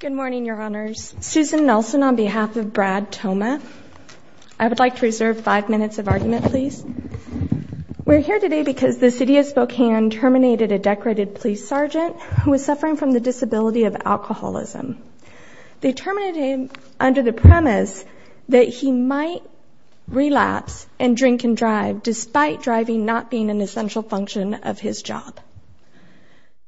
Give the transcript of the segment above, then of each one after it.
Good morning, Your Honors. Susan Nelson on behalf of Brad Thoma. I would like to reserve five minutes of argument, please. We're here today because the City of Spokane terminated a decorated police sergeant who was suffering from the disability of alcoholism. They terminated him under the premise that he might relapse and drink and drive despite driving not being an essential function of his job.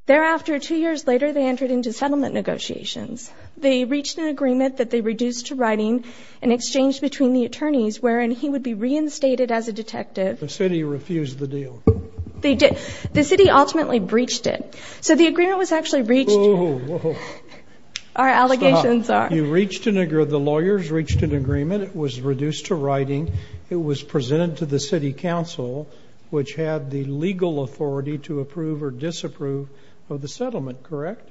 Thereafter, two years later, they entered into settlement negotiations. They reached an agreement that they reduced to writing and exchanged between the attorneys wherein he would be reinstated as a detective. The city refused the deal. They did. The city ultimately breached it. So the agreement was actually breached. Our allegations are... You reached an agreement. The lawyers reached an agreement. It was reduced to writing. It was presented to the City Council, which had the legal authority to approve or disapprove of the settlement, correct?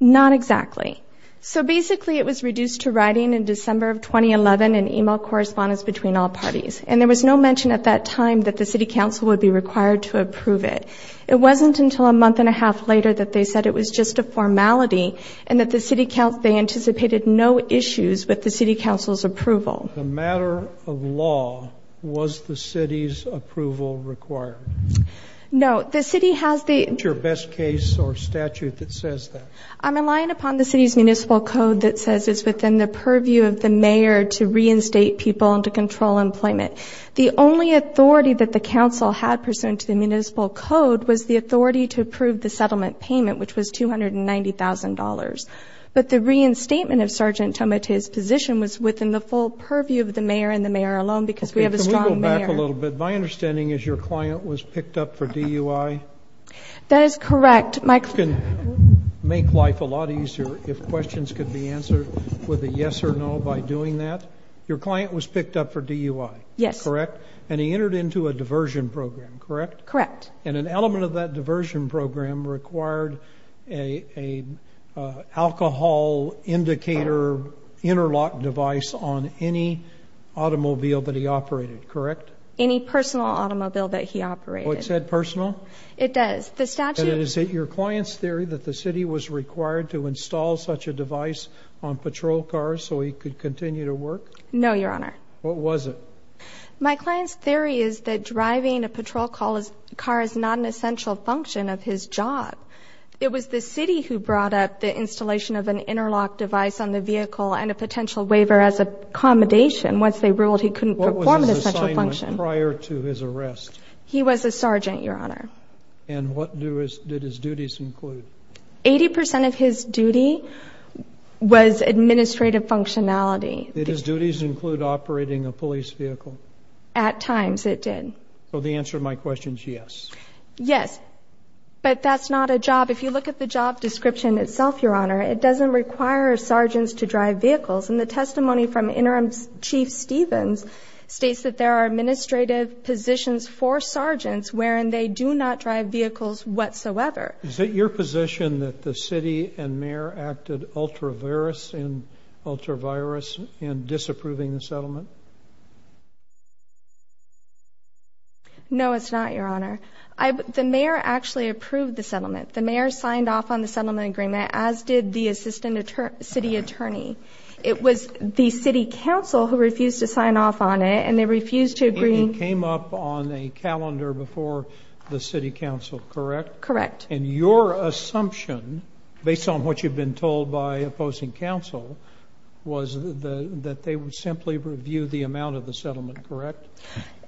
Not exactly. So basically, it was reduced to writing in December of 2011 and email correspondence between all parties. And there was no mention at that time that the City Council would be required to approve it. It wasn't until a month and a half later that they said it was just a formality and that the City Council... They anticipated no issues with the City Council's approval. The matter of law, was the city's approval required? No. The city has the... What's your best case or statute that says that? I'm relying upon the city's municipal code that says it's within the purview of the mayor to reinstate people and to control employment. The only authority that the council had pursuant to the municipal code was the authority to approve the settlement payment, which was $290,000. But the reinstatement of Sergeant Tomate's position was within the full purview of the mayor and the mayor alone, because we have a strong mayor. Okay, can we go back a little bit? My understanding is your client was picked up for DUI? That is correct, Mike. You can make life a lot easier if questions could be answered with a yes or no by doing that. Your client was picked up for DUI? Yes. Correct. And he entered into a diversion program, correct? Correct. And an element of that diversion program required a alcohol indicator interlock device on any automobile that he operated, correct? Any personal automobile that he operated. Oh, it said personal? It does. The statute... Is it your client's theory that the city was required to install such a device on patrol cars so he could continue to work? No, Your Honor. What was it? My client's theory is that driving a patrol car is not an essential function of his job. It was the city who brought up the installation of an interlock device on the vehicle and a potential waiver as accommodation. Once they ruled he couldn't perform an essential function. What was his assignment prior to his arrest? He was a sergeant, Your Honor. And what did his duties include? Eighty percent of his duty was administrative functionality. Did his duties include operating a police vehicle? At times, it did. So the But that's not a job. If you look at the job description itself, Your Honor, it doesn't require sergeants to drive vehicles. And the testimony from Interim Chief Stevens states that there are administrative positions for sergeants wherein they do not drive vehicles whatsoever. Is it your position that the city and mayor acted ultra-virus and ultra-virus in disapproving the settlement? The mayor signed off on the settlement agreement, as did the assistant city attorney. It was the City Council who refused to sign off on it and they refused to agree. It came up on a calendar before the City Council, correct? Correct. And your assumption, based on what you've been told by opposing council, was that they would simply review the amount of the settlement, correct?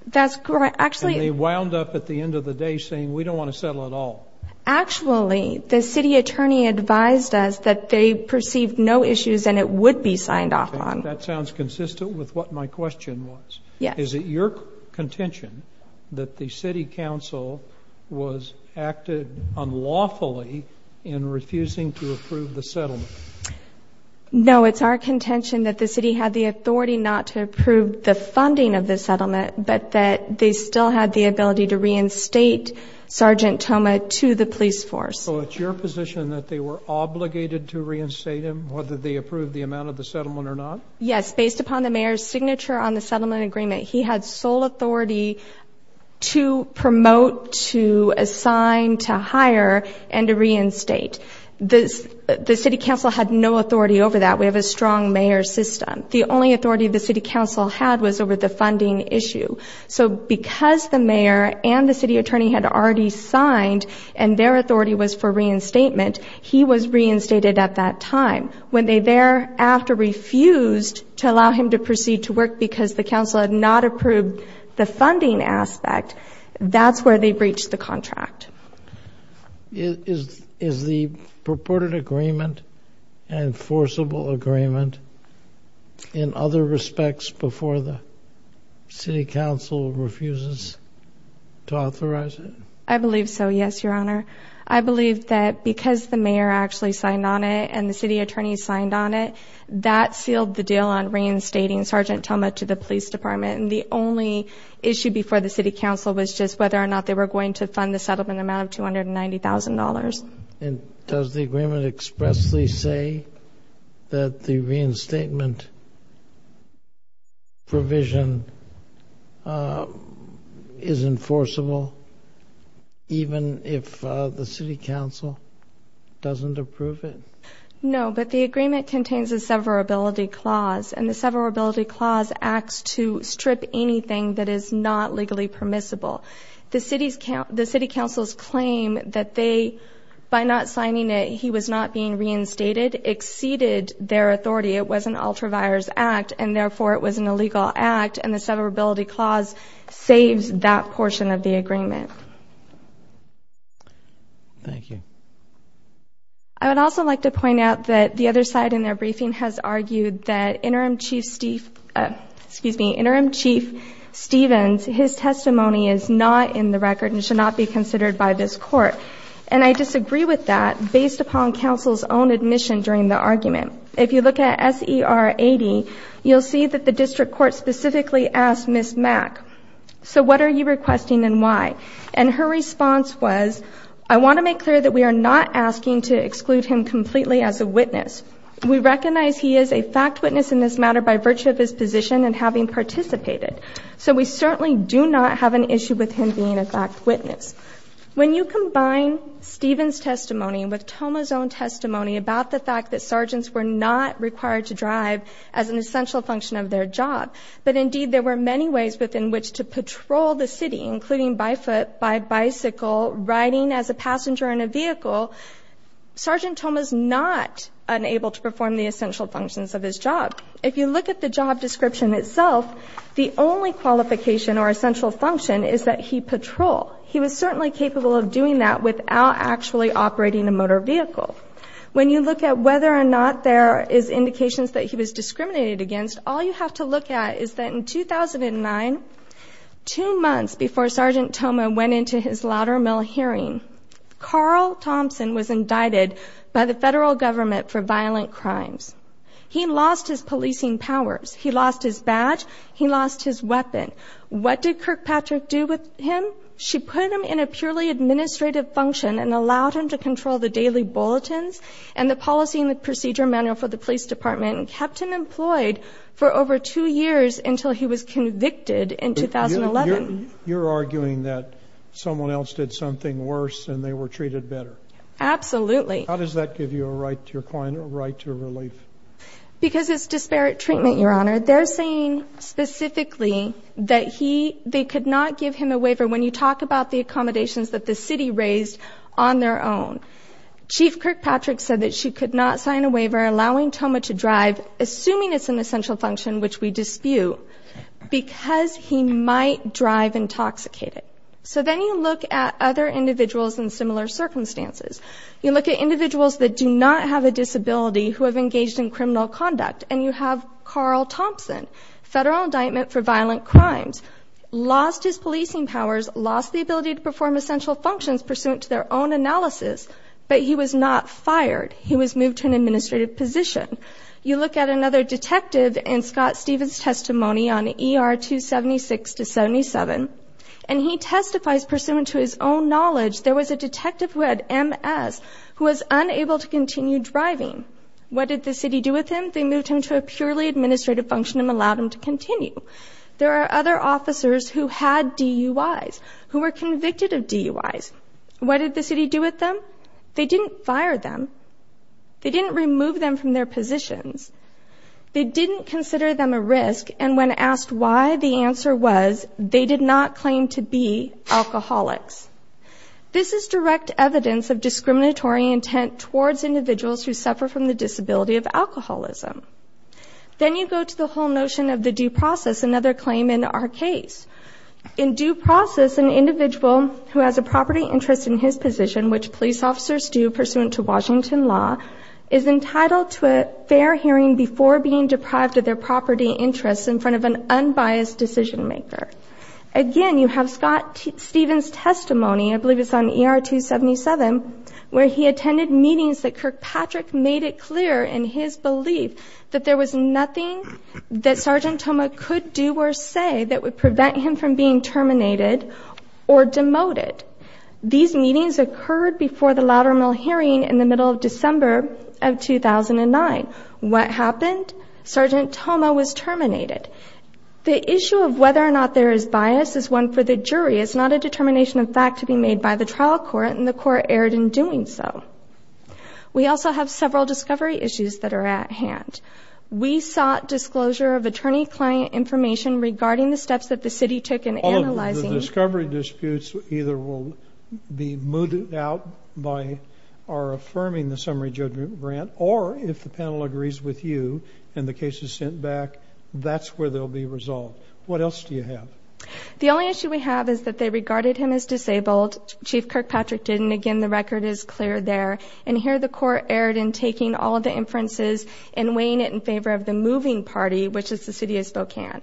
That's correct. Actually, they wound up at the end of the day saying, we don't want to settle at all. Actually, the city attorney advised us that they perceived no issues and it would be signed off on. That sounds consistent with what my question was. Yes. Is it your contention that the City Council was acted unlawfully in refusing to approve the settlement? No, it's our contention that the city had the authority not to approve the funding of the settlement, but that they still had the ability to reinstate Sergeant Thoma to the police force. So it's your position that they were obligated to reinstate him, whether they approved the amount of the settlement or not? Yes, based upon the mayor's signature on the settlement agreement, he had sole authority to promote, to assign, to hire, and to reinstate. The City Council had no authority over that. We have a strong mayor system. The only authority the City Council had was over the funding issue. So because the mayor and the city attorney had already signed and their authority was for reinstatement, he was reinstated at that time. When they thereafter refused to allow him to proceed to work because the council had not approved the funding aspect, that's where they breached the contract. Is the purported agreement an enforceable agreement in other respects before the City Council refuses to authorize it? I believe so, yes, Your Honor. I believe that because the mayor actually signed on it and the city attorney signed on it, that sealed the deal on reinstating Sergeant Thoma to the police department. And the only issue before the City Council was just whether or not they were going to fund the settlement amount of $290,000. And does the agreement expressly say that the reinstatement provision is enforceable even if the City Council doesn't approve it? No, but the agreement contains a severability clause. And the severability clause acts to strip anything that is not legally permissible. The City Council's claim that they, by not signing it, he was not being reinstated exceeded their authority. It was an ultra-virus act and therefore it was an illegal act. And the severability clause saves that portion of the agreement. Thank you. I would also like to point out that the other side in their briefing has argued that Interim Chief Steve, excuse me, Interim Chief Stevens, his testimony is not in the District Court. And I disagree with that based upon Council's own admission during the argument. If you look at SER 80, you'll see that the District Court specifically asked Ms. Mack, so what are you requesting and why? And her response was, I want to make clear that we are not asking to exclude him completely as a witness. We recognize he is a fact witness in this matter by virtue of his position and having participated. So we certainly do not have an issue with him being a fact witness. When you combine Stevens' testimony with Toma's own testimony about the fact that sergeants were not required to drive as an essential function of their job, but indeed there were many ways within which to patrol the city, including by foot, by bicycle, riding as a passenger in a vehicle, Sergeant Toma's not unable to perform the essential functions of his job. If you look at the job description itself, the only qualification or requirement is that he was able to patrol. He was certainly capable of doing that without actually operating a motor vehicle. When you look at whether or not there is indications that he was discriminated against, all you have to look at is that in 2009, two months before Sergeant Toma went into his Loudermill hearing, Carl Thompson was indicted by the federal government for violent crimes. He lost his policing powers. He lost his badge. He lost his uniform. She put him in a purely administrative function and allowed him to control the daily bulletins and the policy and the procedure manual for the police department and kept him employed for over two years until he was convicted in 2011. You're arguing that someone else did something worse and they were treated better? Absolutely. How does that give you a right to your client, a right to relief? Because it's disparate treatment, Your Honor. They're saying specifically that they could not give him a waiver when you talk about the accommodations that the city raised on their own. Chief Kirkpatrick said that she could not sign a waiver allowing Toma to drive, assuming it's an essential function which we dispute, because he might drive intoxicated. So then you look at other individuals in similar circumstances. You look at individuals that do not have a disability who have engaged in criminal conduct, and you have Carl Thompson, federal indictment for violent crimes. Lost his policing powers, lost the ability to perform essential functions pursuant to their own analysis, but he was not fired. He was moved to an administrative position. You look at another detective in Scott Stevens' testimony on ER 276 to 77, and he testifies pursuant to his own knowledge. There was a detective who had MS who was unable to continue driving. What did the city do with him? They moved him to a administrative function and allowed him to continue. There are other officers who had DUIs, who were convicted of DUIs. What did the city do with them? They didn't fire them. They didn't remove them from their positions. They didn't consider them a risk, and when asked why, the answer was they did not claim to be alcoholics. This is direct evidence of discriminatory intent towards individuals who suffer from the disability of alcoholism. Then you go to the whole notion of the due process, another claim in our case. In due process, an individual who has a property interest in his position, which police officers do pursuant to Washington law, is entitled to a fair hearing before being deprived of their property interests in front of an unbiased decision maker. Again, you have Scott Stevens' testimony, I believe it's on ER 277, where he attended meetings that Kirkpatrick made it clear in his belief that there was nothing that Sergeant Toma could do or say that would prevent him from being terminated or demoted. These meetings occurred before the Loudermill hearing in the middle of December of 2009. What happened? Sergeant Toma was terminated. The issue of whether or not there is bias is one for the jury. It's not a determination of fact to be made by the trial court, and the jury is not responsible. We also have several discovery issues that are at hand. We sought disclosure of attorney-client information regarding the steps that the city took in analyzing... All of the discovery disputes either will be moved out by our affirming the summary judgment grant, or if the panel agrees with you and the case is sent back, that's where they'll be resolved. What else do you have? The only issue we have is that they regarded him as disabled. Chief Kirkpatrick didn't. Again, the record is clear there, and here the court erred in taking all of the inferences and weighing it in favor of the moving party, which is the City of Spokane.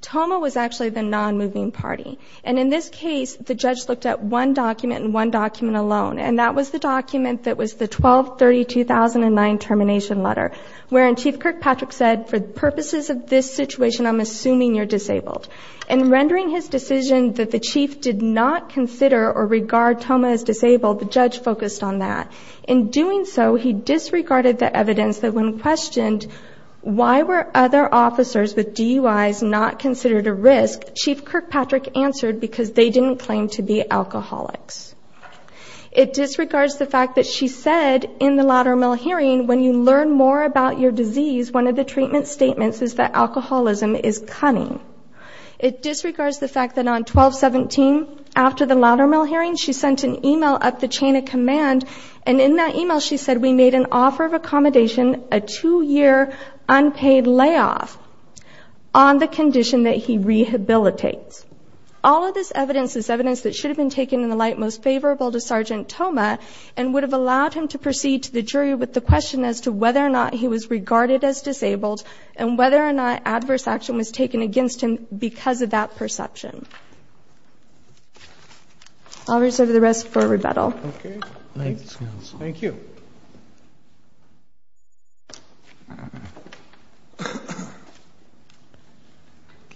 Toma was actually the non-moving party, and in this case, the judge looked at one document and one document alone, and that was the document that was the 12-30-2009 termination letter, wherein Chief Kirkpatrick said, for the purposes of this situation, I'm assuming you're disabled. In rendering his decision that the chief did not consider or was focused on that. In doing so, he disregarded the evidence that when questioned, why were other officers with DUIs not considered a risk, Chief Kirkpatrick answered, because they didn't claim to be alcoholics. It disregards the fact that she said in the Loudermill hearing, when you learn more about your disease, one of the treatment statements is that alcoholism is cunning. It disregards the fact that on 12-17, after the Loudermill hearing, she sent an email up the chain of command, and in that email, she said, we made an offer of accommodation, a two-year unpaid layoff on the condition that he rehabilitates. All of this evidence is evidence that should have been taken in the light most favorable to Sergeant Toma, and would have allowed him to proceed to the jury with the question as to whether or not he was regarded as disabled, and whether or not adverse action was taken against him because of that perception. I'll reserve the rest for rebuttal. Okay. Thanks, Counsel. Thank you.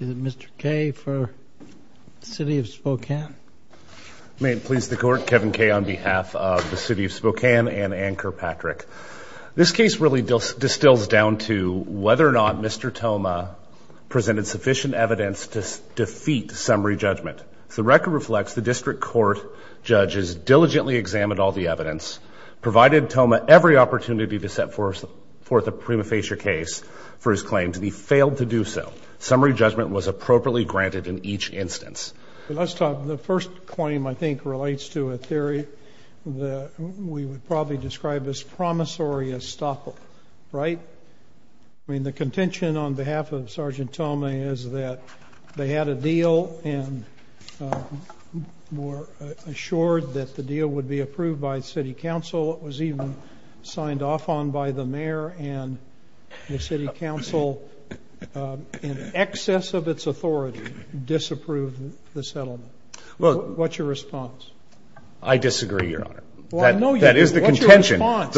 Is it Mr. Kaye for the City of Spokane? May it please the Court, Kevin Kaye on behalf of the City of Spokane and Ann Kirkpatrick. This case really distills down to whether or not Mr. Toma presented sufficient evidence to defeat summary judgment. The record reflects the district court judges diligently examined all the evidence, provided Toma every opportunity to set forth a prima facie case for his claims, and he failed to do so. Summary judgment was appropriately granted in each instance. Let's talk... The first claim, I think, relates to a theory that we would probably describe as promissory estoppel, right? I mean, the contention on behalf of Sergeant Toma is that they had a deal and were assured that the deal would be approved by city council. It was even signed off on by the mayor, and the city council, in excess of its authority, disapproved the settlement. What's your response? I disagree, Your Honor. Well, I know you do. What's your response? That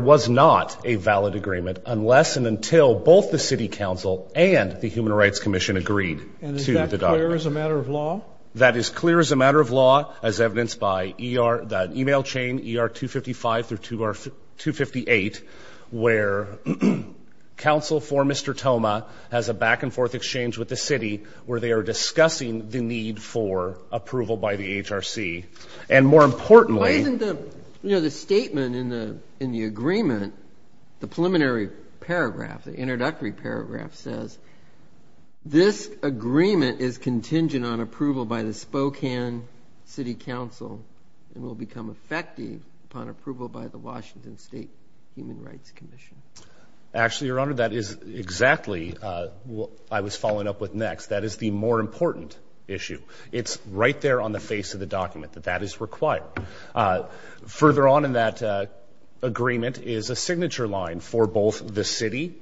is not a valid agreement unless and until both the city council and the Human Rights Commission agreed to the document. And is that clear as a matter of law? That is clear as a matter of law, as evidenced by the email chain, ER 255 through 258, where council for Mr. Toma has a back and forth exchange with the city where they are discussing the need for approval by the HRC. And more importantly... Why isn't the statement in the agreement the preliminary paragraph, the introductory paragraph says, this agreement is contingent on approval by the Spokane City Council and will become effective upon approval by the Washington State Human Rights Commission. Actually, Your Honor, that is exactly what I was following up with next. That is the more important issue. It's right there on the face of the document that that is required. Further on in that agreement is a signature line for both the city,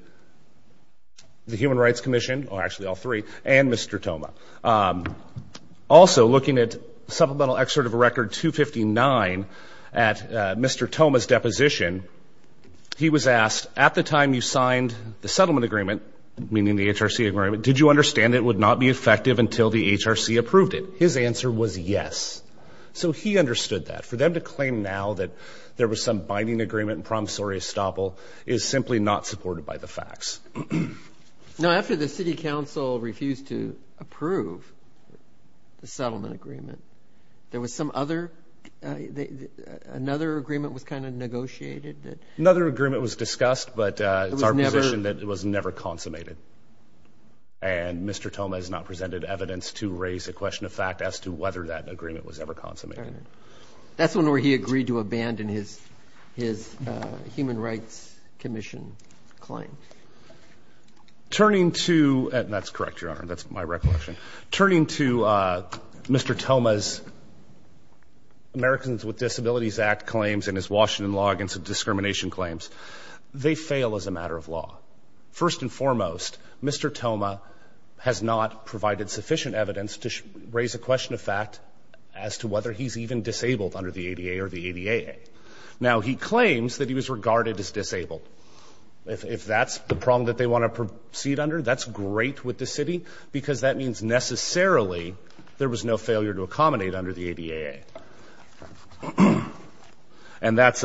the Human Rights Commission, or actually all three, and Mr. Toma. Also looking at supplemental excerpt of a record 259 at Mr. Toma's deposition, he was asked, at the time you signed the settlement agreement, meaning the HRC agreement, did you understand it would not be effective until the HRC approved it? His answer was yes. So he understood that. For them to claim now that there was some binding agreement in promissory estoppel is simply not supported by the facts. Now, after the city council refused to approve the settlement agreement, there was some other... Another agreement was negotiated that... Another agreement was discussed, but it's our position that it was never consummated. And Mr. Toma has not presented evidence to raise a question of fact as to whether that agreement was ever consummated. Fair enough. That's when he agreed to abandon his Human Rights Commission claim. Turning to... And that's correct, Your Honor. That's my recollection. Turning to Mr. Toma's Americans with Disabilities Act claims and his Washington law against discrimination claims, they fail as a matter of law. First and foremost, Mr. Toma has not provided sufficient evidence to raise a question of fact as to whether he's even disabled under the ADA or the ADAA. Now, he claims that he was regarded as disabled. If that's the problem that they wanna proceed under, that's great with the city because that means necessarily there was no failure to accommodate under the ADAA. And that's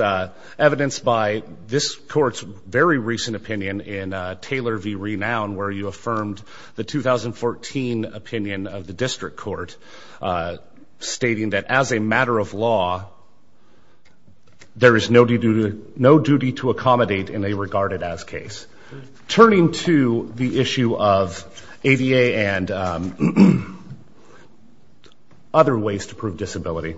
evidenced by this court's very recent opinion in Taylor v. Renown, where you affirmed the 2014 opinion of the district court, stating that as a matter of law, there is no duty to accommodate in a regarded as case. Turning to the issue of ADA and other ways to prove disability,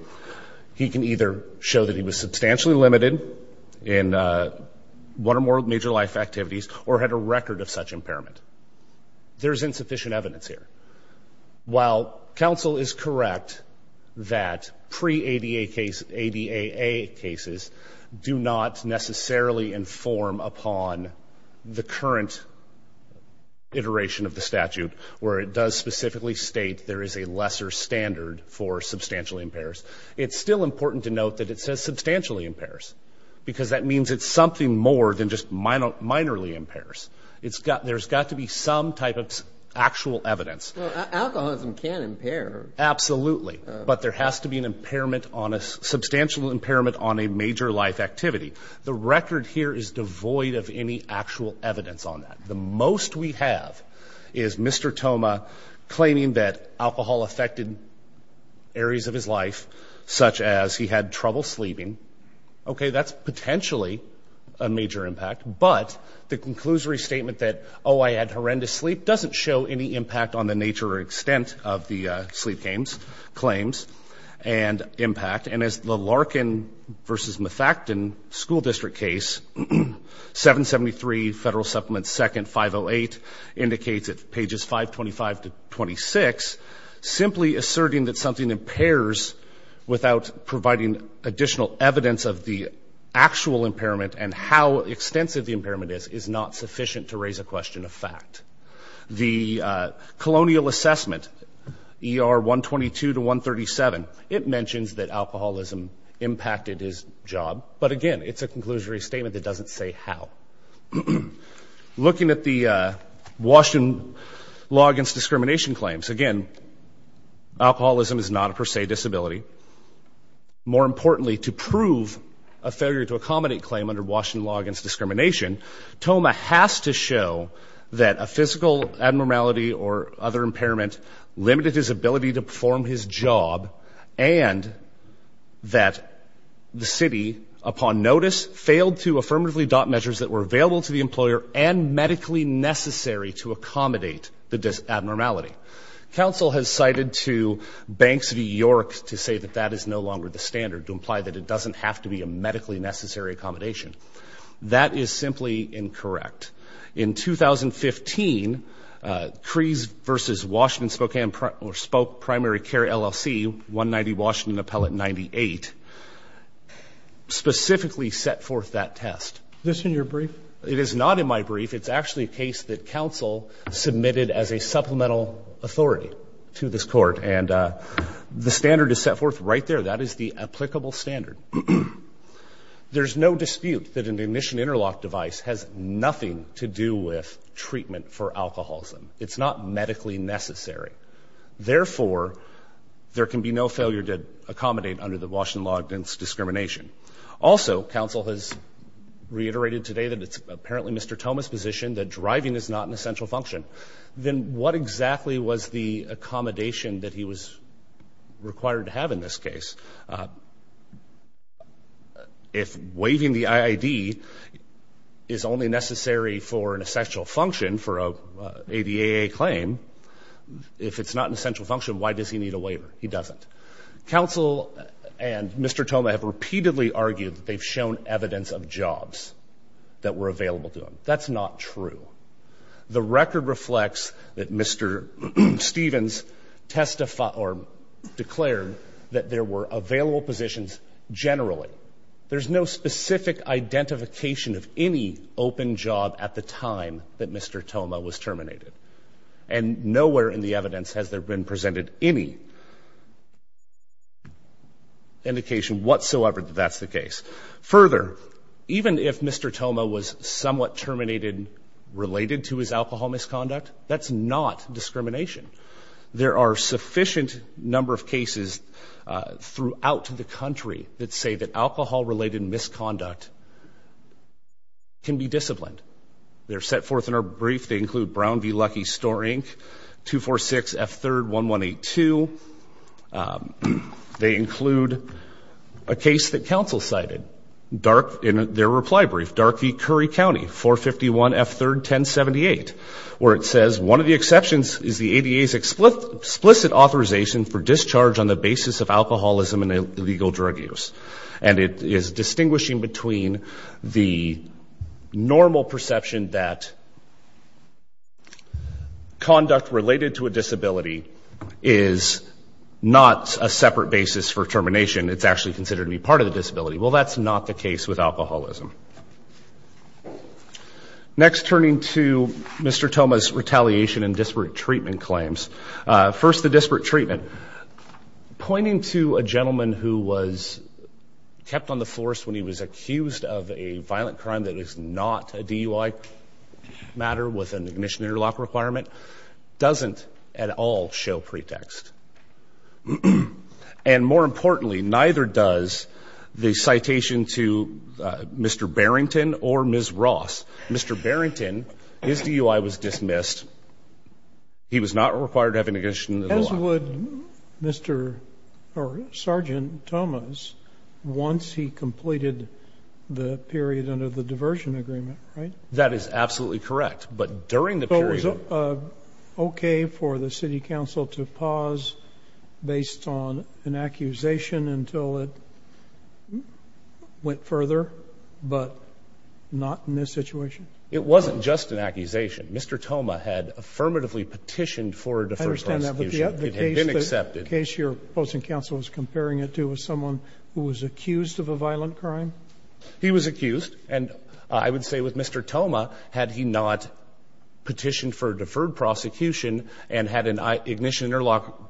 he can either show that he was substantially limited in one or more major life activities or had a record of such impairment. There's insufficient evidence here. While counsel is correct that pre-ADA cases do not necessarily inform upon the current iteration of the statute, where it does specifically state there is a lesser standard for substantially impairs, it's still important to note that it says substantially impairs because that means it's something more than just minorly impairs. There's got to be some type of actual evidence. Well, alcoholism can impair. Absolutely. But there has to be a substantial impairment on a major life activity. The record here is devoid of any actual evidence on that. The most we have is Mr. Thoma claiming that alcohol affected areas of his life, such as he had trouble sleeping. Okay, that's potentially a major impact. But the conclusory statement that, oh, I had horrendous sleep doesn't show any impact on the nature or extent of the sleep claims and impact. And as the Larkin versus Mefactan school district case, 773 Federal Supplement 2nd 508 indicates at pages 525 to 26, simply asserting that something impairs without providing additional evidence of the actual impairment and how extensive the assessment, ER 122 to 137, it mentions that alcoholism impacted his job. But again, it's a conclusory statement that doesn't say how. Looking at the Washington Law Against Discrimination claims, again, alcoholism is not a per se disability. More importantly, to prove a failure to accommodate claim under Washington Law Against Discrimination, Thoma has to show that a physical abnormality or other impairment limited his ability to perform his job and that the city, upon notice, failed to affirmatively adopt measures that were available to the employer and medically necessary to accommodate the abnormality. Council has cited to Banks v. York to say that that is no longer the standard, to imply that it doesn't have to be a medically necessary accommodation. That is simply incorrect. In 2015, Crees v. Washington Spokane Primary Care LLC, 190 Washington Appellate 98, specifically set forth that test. Is this in your brief? It is not in my brief. It's actually a case that council submitted as a supplemental authority to this court, and the standard is set forth right there. That is the applicable standard. There's no dispute that an ignition interlock device has nothing to do with treatment for alcoholism. It's not medically necessary. Therefore, there can be no failure to accommodate under the Washington Law Against Discrimination. Also, council has reiterated today that it's apparently Mr. Thoma's position that driving is not an essential function. Then what exactly was the accommodation that he was required to have in this case? If waiving the IID is only necessary for an essential function for a ADAA claim, if it's not an essential function, why does he need a waiver? He doesn't. Council and Mr. Thoma have repeatedly argued they've shown evidence of jobs that were available to him. That's not true. The there were available positions generally. There's no specific identification of any open job at the time that Mr. Thoma was terminated. And nowhere in the evidence has there been presented any indication whatsoever that that's the case. Further, even if Mr. Thoma was somewhat terminated related to his alcohol misconduct, that's not discrimination. There are sufficient number of cases throughout the country that say that alcohol related misconduct can be disciplined. They're set forth in our brief. They include Brown v. Lucky Store Inc. 246 F. 3rd 1182. They include a case that council cited in their reply brief, Dark v. Curry County 451 F. 3rd 1078, where it says one of the exceptions is the ADA's explicit authorization for discharge on the basis of alcoholism and illegal drug use. And it is distinguishing between the normal perception that conduct related to a disability is not a separate basis for termination. It's actually considered to be part of the disability. Well, that's not the case with alcoholism. Next, turning to Mr. Thoma's retaliation and disparate treatment claims. First, the disparate treatment. Pointing to a gentleman who was kept on the force when he was accused of a violent crime that is not a DUI matter with an ignition interlock requirement doesn't at all show pretext. And more Barrington or Ms. Ross, Mr. Barrington, his DUI was dismissed. He was not required to have an ignition as would Mr. Sergeant Thomas once he completed the period under the diversion agreement, right? That is absolutely correct. But during the period was okay for the city council to pause based on an accusation until it went further, but not in this situation. It wasn't just an accusation. Mr. Thoma had affirmatively petitioned for the first time. It had been accepted case. Your opposing counsel is comparing it to someone who was accused of a violent crime. He was accused. And I would say with Mr. Thoma, had he not petitioned for deferred prosecution and had an ignition interlock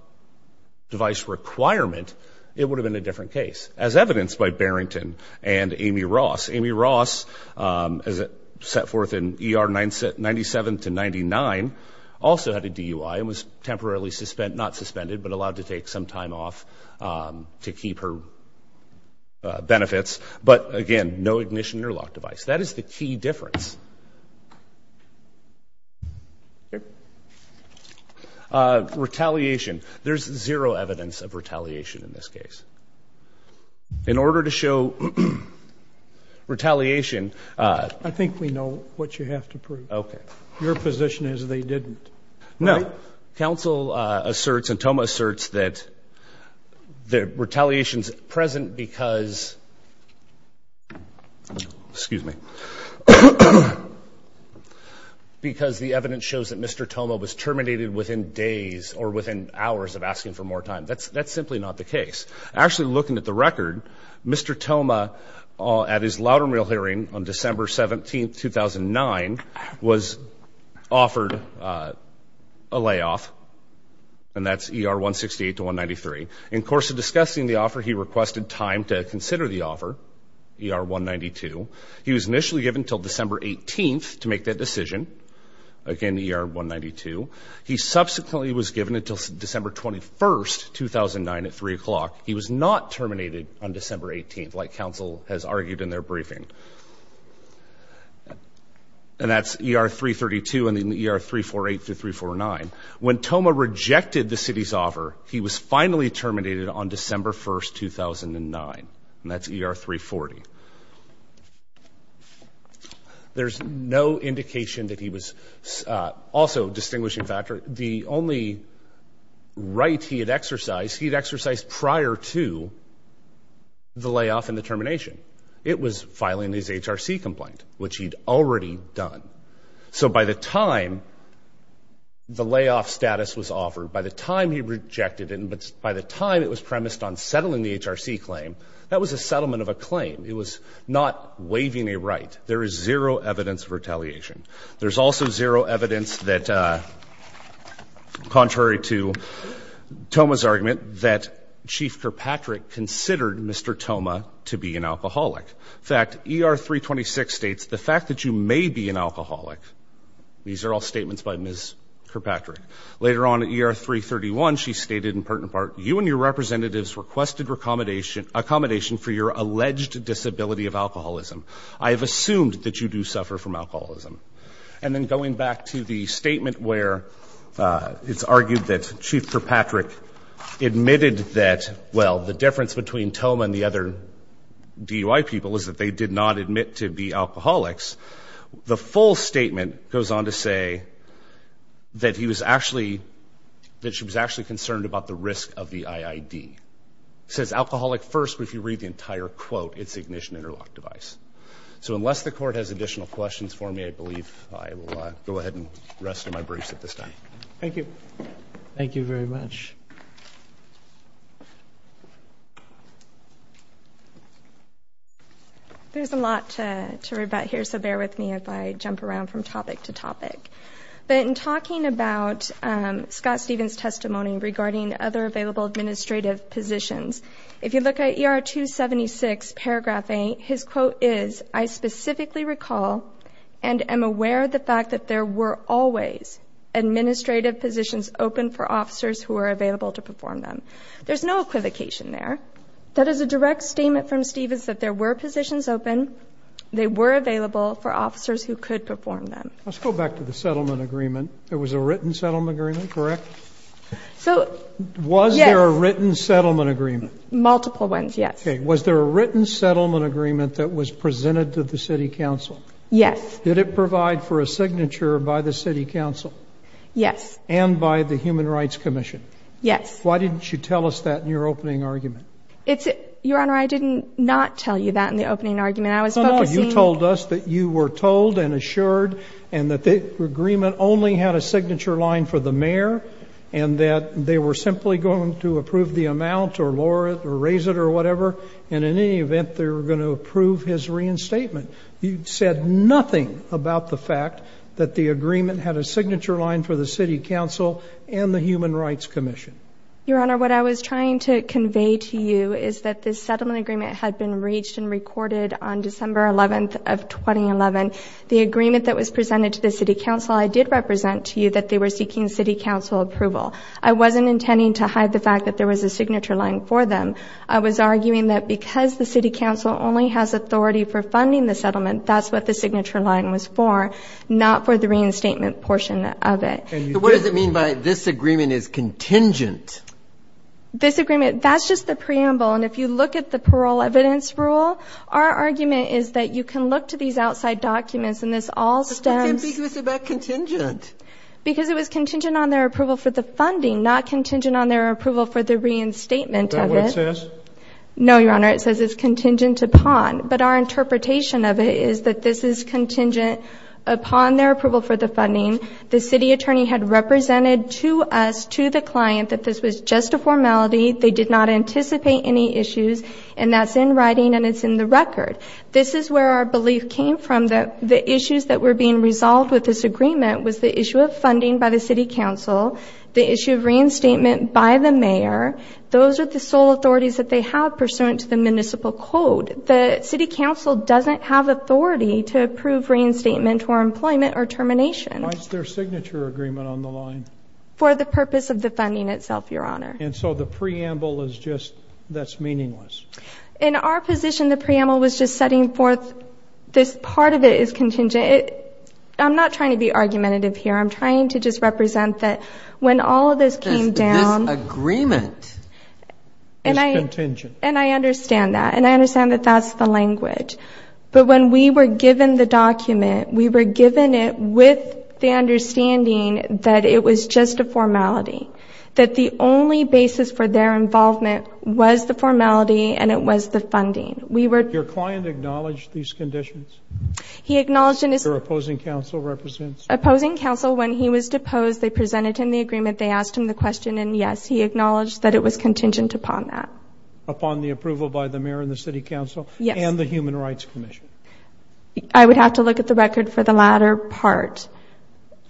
device requirement, it would have been a different case as evidenced by Barrington and Amy Ross. Amy Ross, um, as it set forth in ER 97 to 99 also had a DUI and was temporarily suspended, not suspended, but allowed to take some time off, um, to keep her benefits. But again, no ignition interlock device. That is the key difference. Yeah. Uh, retaliation. There's zero evidence of retaliation in this case in order to show retaliation. Uh, I think we know what you have to prove. Okay. Your position is they didn't know. Council asserts and Thomas asserts that the retaliation is present because excuse me, because the evidence shows that Mr Tomo was terminated within days or within hours of asking for more time. That's that's simply not the case. Actually, looking at the record, Mr Tomo at his louder mill hearing on December 17th, 2009 was offered, uh, a layoff and that's er 1 68 to 1 93. In course of discussing the offer, he requested time to consider the offer. You are 1 92. He was initially given till December 18th to make that decision. Again, you're 1 92. He subsequently was given until December 21st, 2009 at three o'clock. He was not terminated on December 18th, like council has argued in their briefing. And that's er 3 32 in the year 348 to 349. When Tomo rejected the city's offer, he was finally terminated on December 1st, 2009. And that's er 3 40. There's no indication that he was also distinguishing factor. The only right he had exercised, he'd exercised prior to the layoff and the termination. It was filing his HRC complaint, which he'd already done. So by the time the layoff status was offered by the time he rejected it, but by the time it was premised on settling the HRC claim, that was a settlement of a claim. It was not waving a right. There is zero evidence of retaliation. There's also zero evidence that contrary to Tomo's argument that Chief Kirkpatrick considered Mr Tomo to be an alcoholic. Fact er 3 26 states the fact that you may be an alcoholic. These are all statements by Miss Kirkpatrick. Later on, er 3 31. She stated in part and part you and your representatives requested accommodation accommodation for your alleged disability of alcoholism. I have assumed that you do suffer from alcoholism. And then going back to the statement where it's argued that Chief Kirkpatrick admitted that, well, the difference between Tomo and the other D U I people is that they did not admit to be alcoholics. The full statement goes on to say that he was actually that she was actually concerned about the risk of the I. I. D. Says alcoholic first. If you read the entire quote, it's ignition interlock device. So unless the court has additional questions for me, I believe I will go ahead and rest of my briefs at this time. Thank you. Thank you very much. There's a lot to worry about here. So bear with me if I jump around from topic to topic. But in talking about Scott Stevens testimony regarding other available administrative positions, if you look at your 2 76 paragraphing, his quote is, I specifically recall and am aware of the fact that there were always administrative positions open for officers who are available to perform them. There's no equivocation there. That is a direct statement from Stevens that there were positions open. They were available for officers who could perform them. Let's go back to the settlement agreement. It was a written settlement agreement, correct? So was there a written settlement agreement? Multiple ones? Yes. Was there a written settlement agreement that was presented to the City Council? Yes. Did it provide for a signature by the City Council? Yes. And by the Human Rights Commission? Yes. Why didn't you tell us that in your opening argument? It's your honor. I didn't not tell you that in the opening argument. I was focusing told us that you were told and assured and that the agreement only had a signature line for the mayor and that they were simply going to approve the amount or Laura or raise it or whatever. And in any event, they were going to approve his reinstatement. You said nothing about the fact that the agreement had a signature line for the City Council and the Human Rights Commission. Your honor, what I was trying to convey to you is that this settlement agreement had been reached and recorded on December 11th of 2011. The agreement that was presented to the City Council, I did represent to you that they were seeking City Council approval. I wasn't intending to hide the fact that there was a signature line for them. I was arguing that because the City Council only has authority for funding the settlement, that's what the signature line was for, not for the reinstatement portion of it. What does it mean by this agreement is contingent? This agreement, that's just the preamble. And if you look at the parole evidence rule, our argument is that you can look to these outside documents and this all stems... But why can't we say it's contingent? Because it was contingent on their approval for the funding, not contingent on their approval for the reinstatement of it. Is that what it says? No, Your Honor, it says it's contingent upon. But our interpretation of it is that this is contingent upon their approval for the funding. The city attorney had represented to us, to the client, that this was just a formality, they did not anticipate any issues, and that's in writing and it's in the record. This is where our belief came from, that the issues that were being resolved with this agreement was the issue of funding by the City Council, the issue of reinstatement by the mayor, those are the sole authorities that they have pursuant to the municipal code. The City Council doesn't have authority to approve reinstatement for employment or termination. Why is their signature agreement on the line? For the purpose of the funding itself, Your In our position, the preamble was just setting forth this part of it is contingent. I'm not trying to be argumentative here, I'm trying to just represent that when all of this came down... This agreement is contingent. And I understand that, and I understand that that's the language. But when we were given the document, we were given it with the understanding that it was just a formality, and it was the funding. We were... Your client acknowledged these conditions? He acknowledged... Your opposing counsel represents? Opposing counsel, when he was deposed, they presented him the agreement, they asked him the question, and yes, he acknowledged that it was contingent upon that. Upon the approval by the mayor and the City Council? Yes. And the Human Rights Commission? I would have to look at the record for the latter part.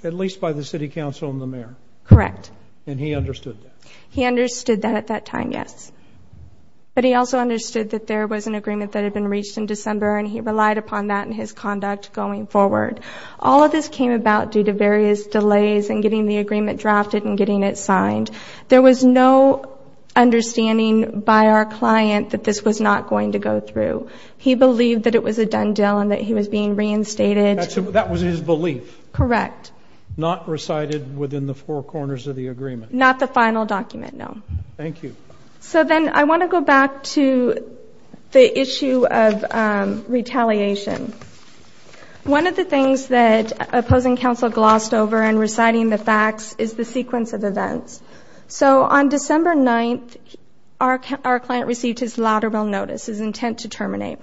At least by the City Council and the mayor? Correct. And he understood that? He understood that at that time, yes. But he also understood that there was an agreement that had been reached in December, and he relied upon that in his conduct going forward. All of this came about due to various delays in getting the agreement drafted and getting it signed. There was no understanding by our client that this was not going to go through. He believed that it was a done deal and that he was being reinstated. That was his belief? Correct. Not recited within the four corners of the city? Correct. So then, I want to go back to the issue of retaliation. One of the things that opposing counsel glossed over in reciting the facts is the sequence of events. So on December 9th, our client received his Loudermill Notice, his intent to terminate.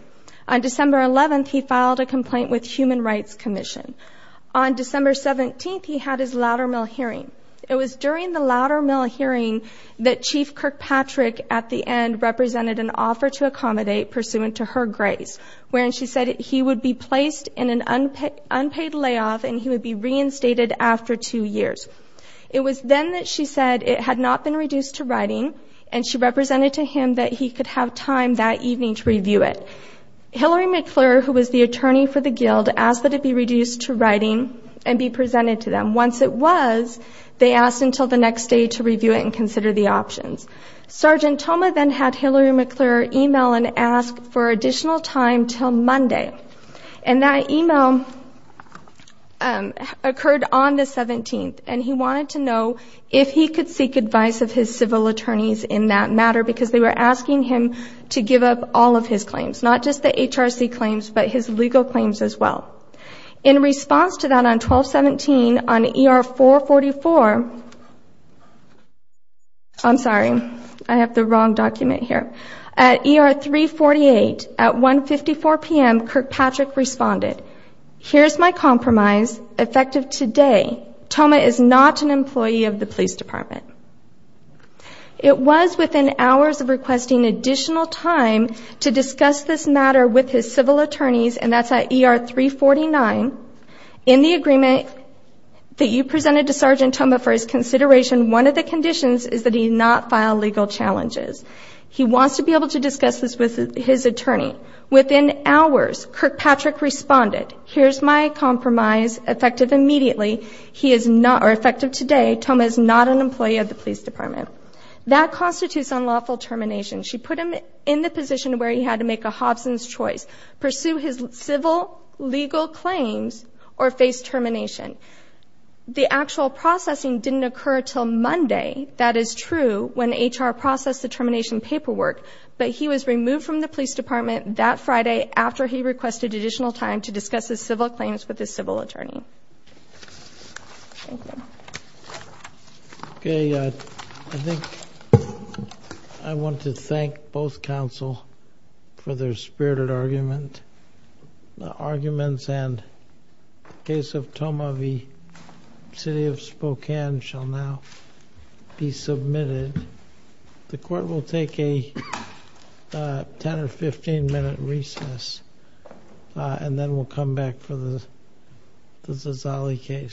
On December 11th, he filed a complaint with Human Rights Commission. On December 17th, he had his Loudermill hearing. It was during the Loudermill hearing that Chief Kirkpatrick, at the end, represented an offer to accommodate pursuant to her grace, wherein she said he would be placed in an unpaid layoff and he would be reinstated after two years. It was then that she said it had not been reduced to writing, and she represented to him that he could have time that evening to review it. Hillary McClure, who was the attorney for the guild, asked that it be reduced to was, they asked until the next day to review it and consider the options. Sergeant Thoma then had Hillary McClure email and ask for additional time till Monday, and that email occurred on the 17th, and he wanted to know if he could seek advice of his civil attorneys in that matter, because they were asking him to give up all of his claims, not just the HRC claims, but his legal claims as well. In response to that, on 12-17, on ER 444, I'm sorry, I have the wrong document here. At ER 348, at 154 p.m., Kirkpatrick responded, here's my compromise, effective today, Thoma is not an employee of the police department. It was within hours of requesting additional time to discuss this matter with his civil attorneys, and that's at ER 349. In the agreement that you presented to Sergeant Thoma for his consideration, one of the conditions is that he not file legal challenges. He wants to be able to discuss this with his attorney. Within hours, Kirkpatrick responded, here's my compromise, effective immediately, he is not, or effective today, Thoma is not an employee of the police department. That constitutes unlawful termination. She put him in the position where he had to make a Hobson's Choice, pursue his civil legal claims, or face termination. The actual processing didn't occur until Monday, that is true, when HR processed the termination paperwork, but he was removed from the police department that Friday after he requested additional time to discuss his civil claims with his civil attorney. Okay, I think I want to thank both counsel for their spirited argument. The arguments and case of Thoma v. City of Spokane shall now be submitted. The court will take a 10 or 15 minute recess, and then we'll come back for the Zazali case.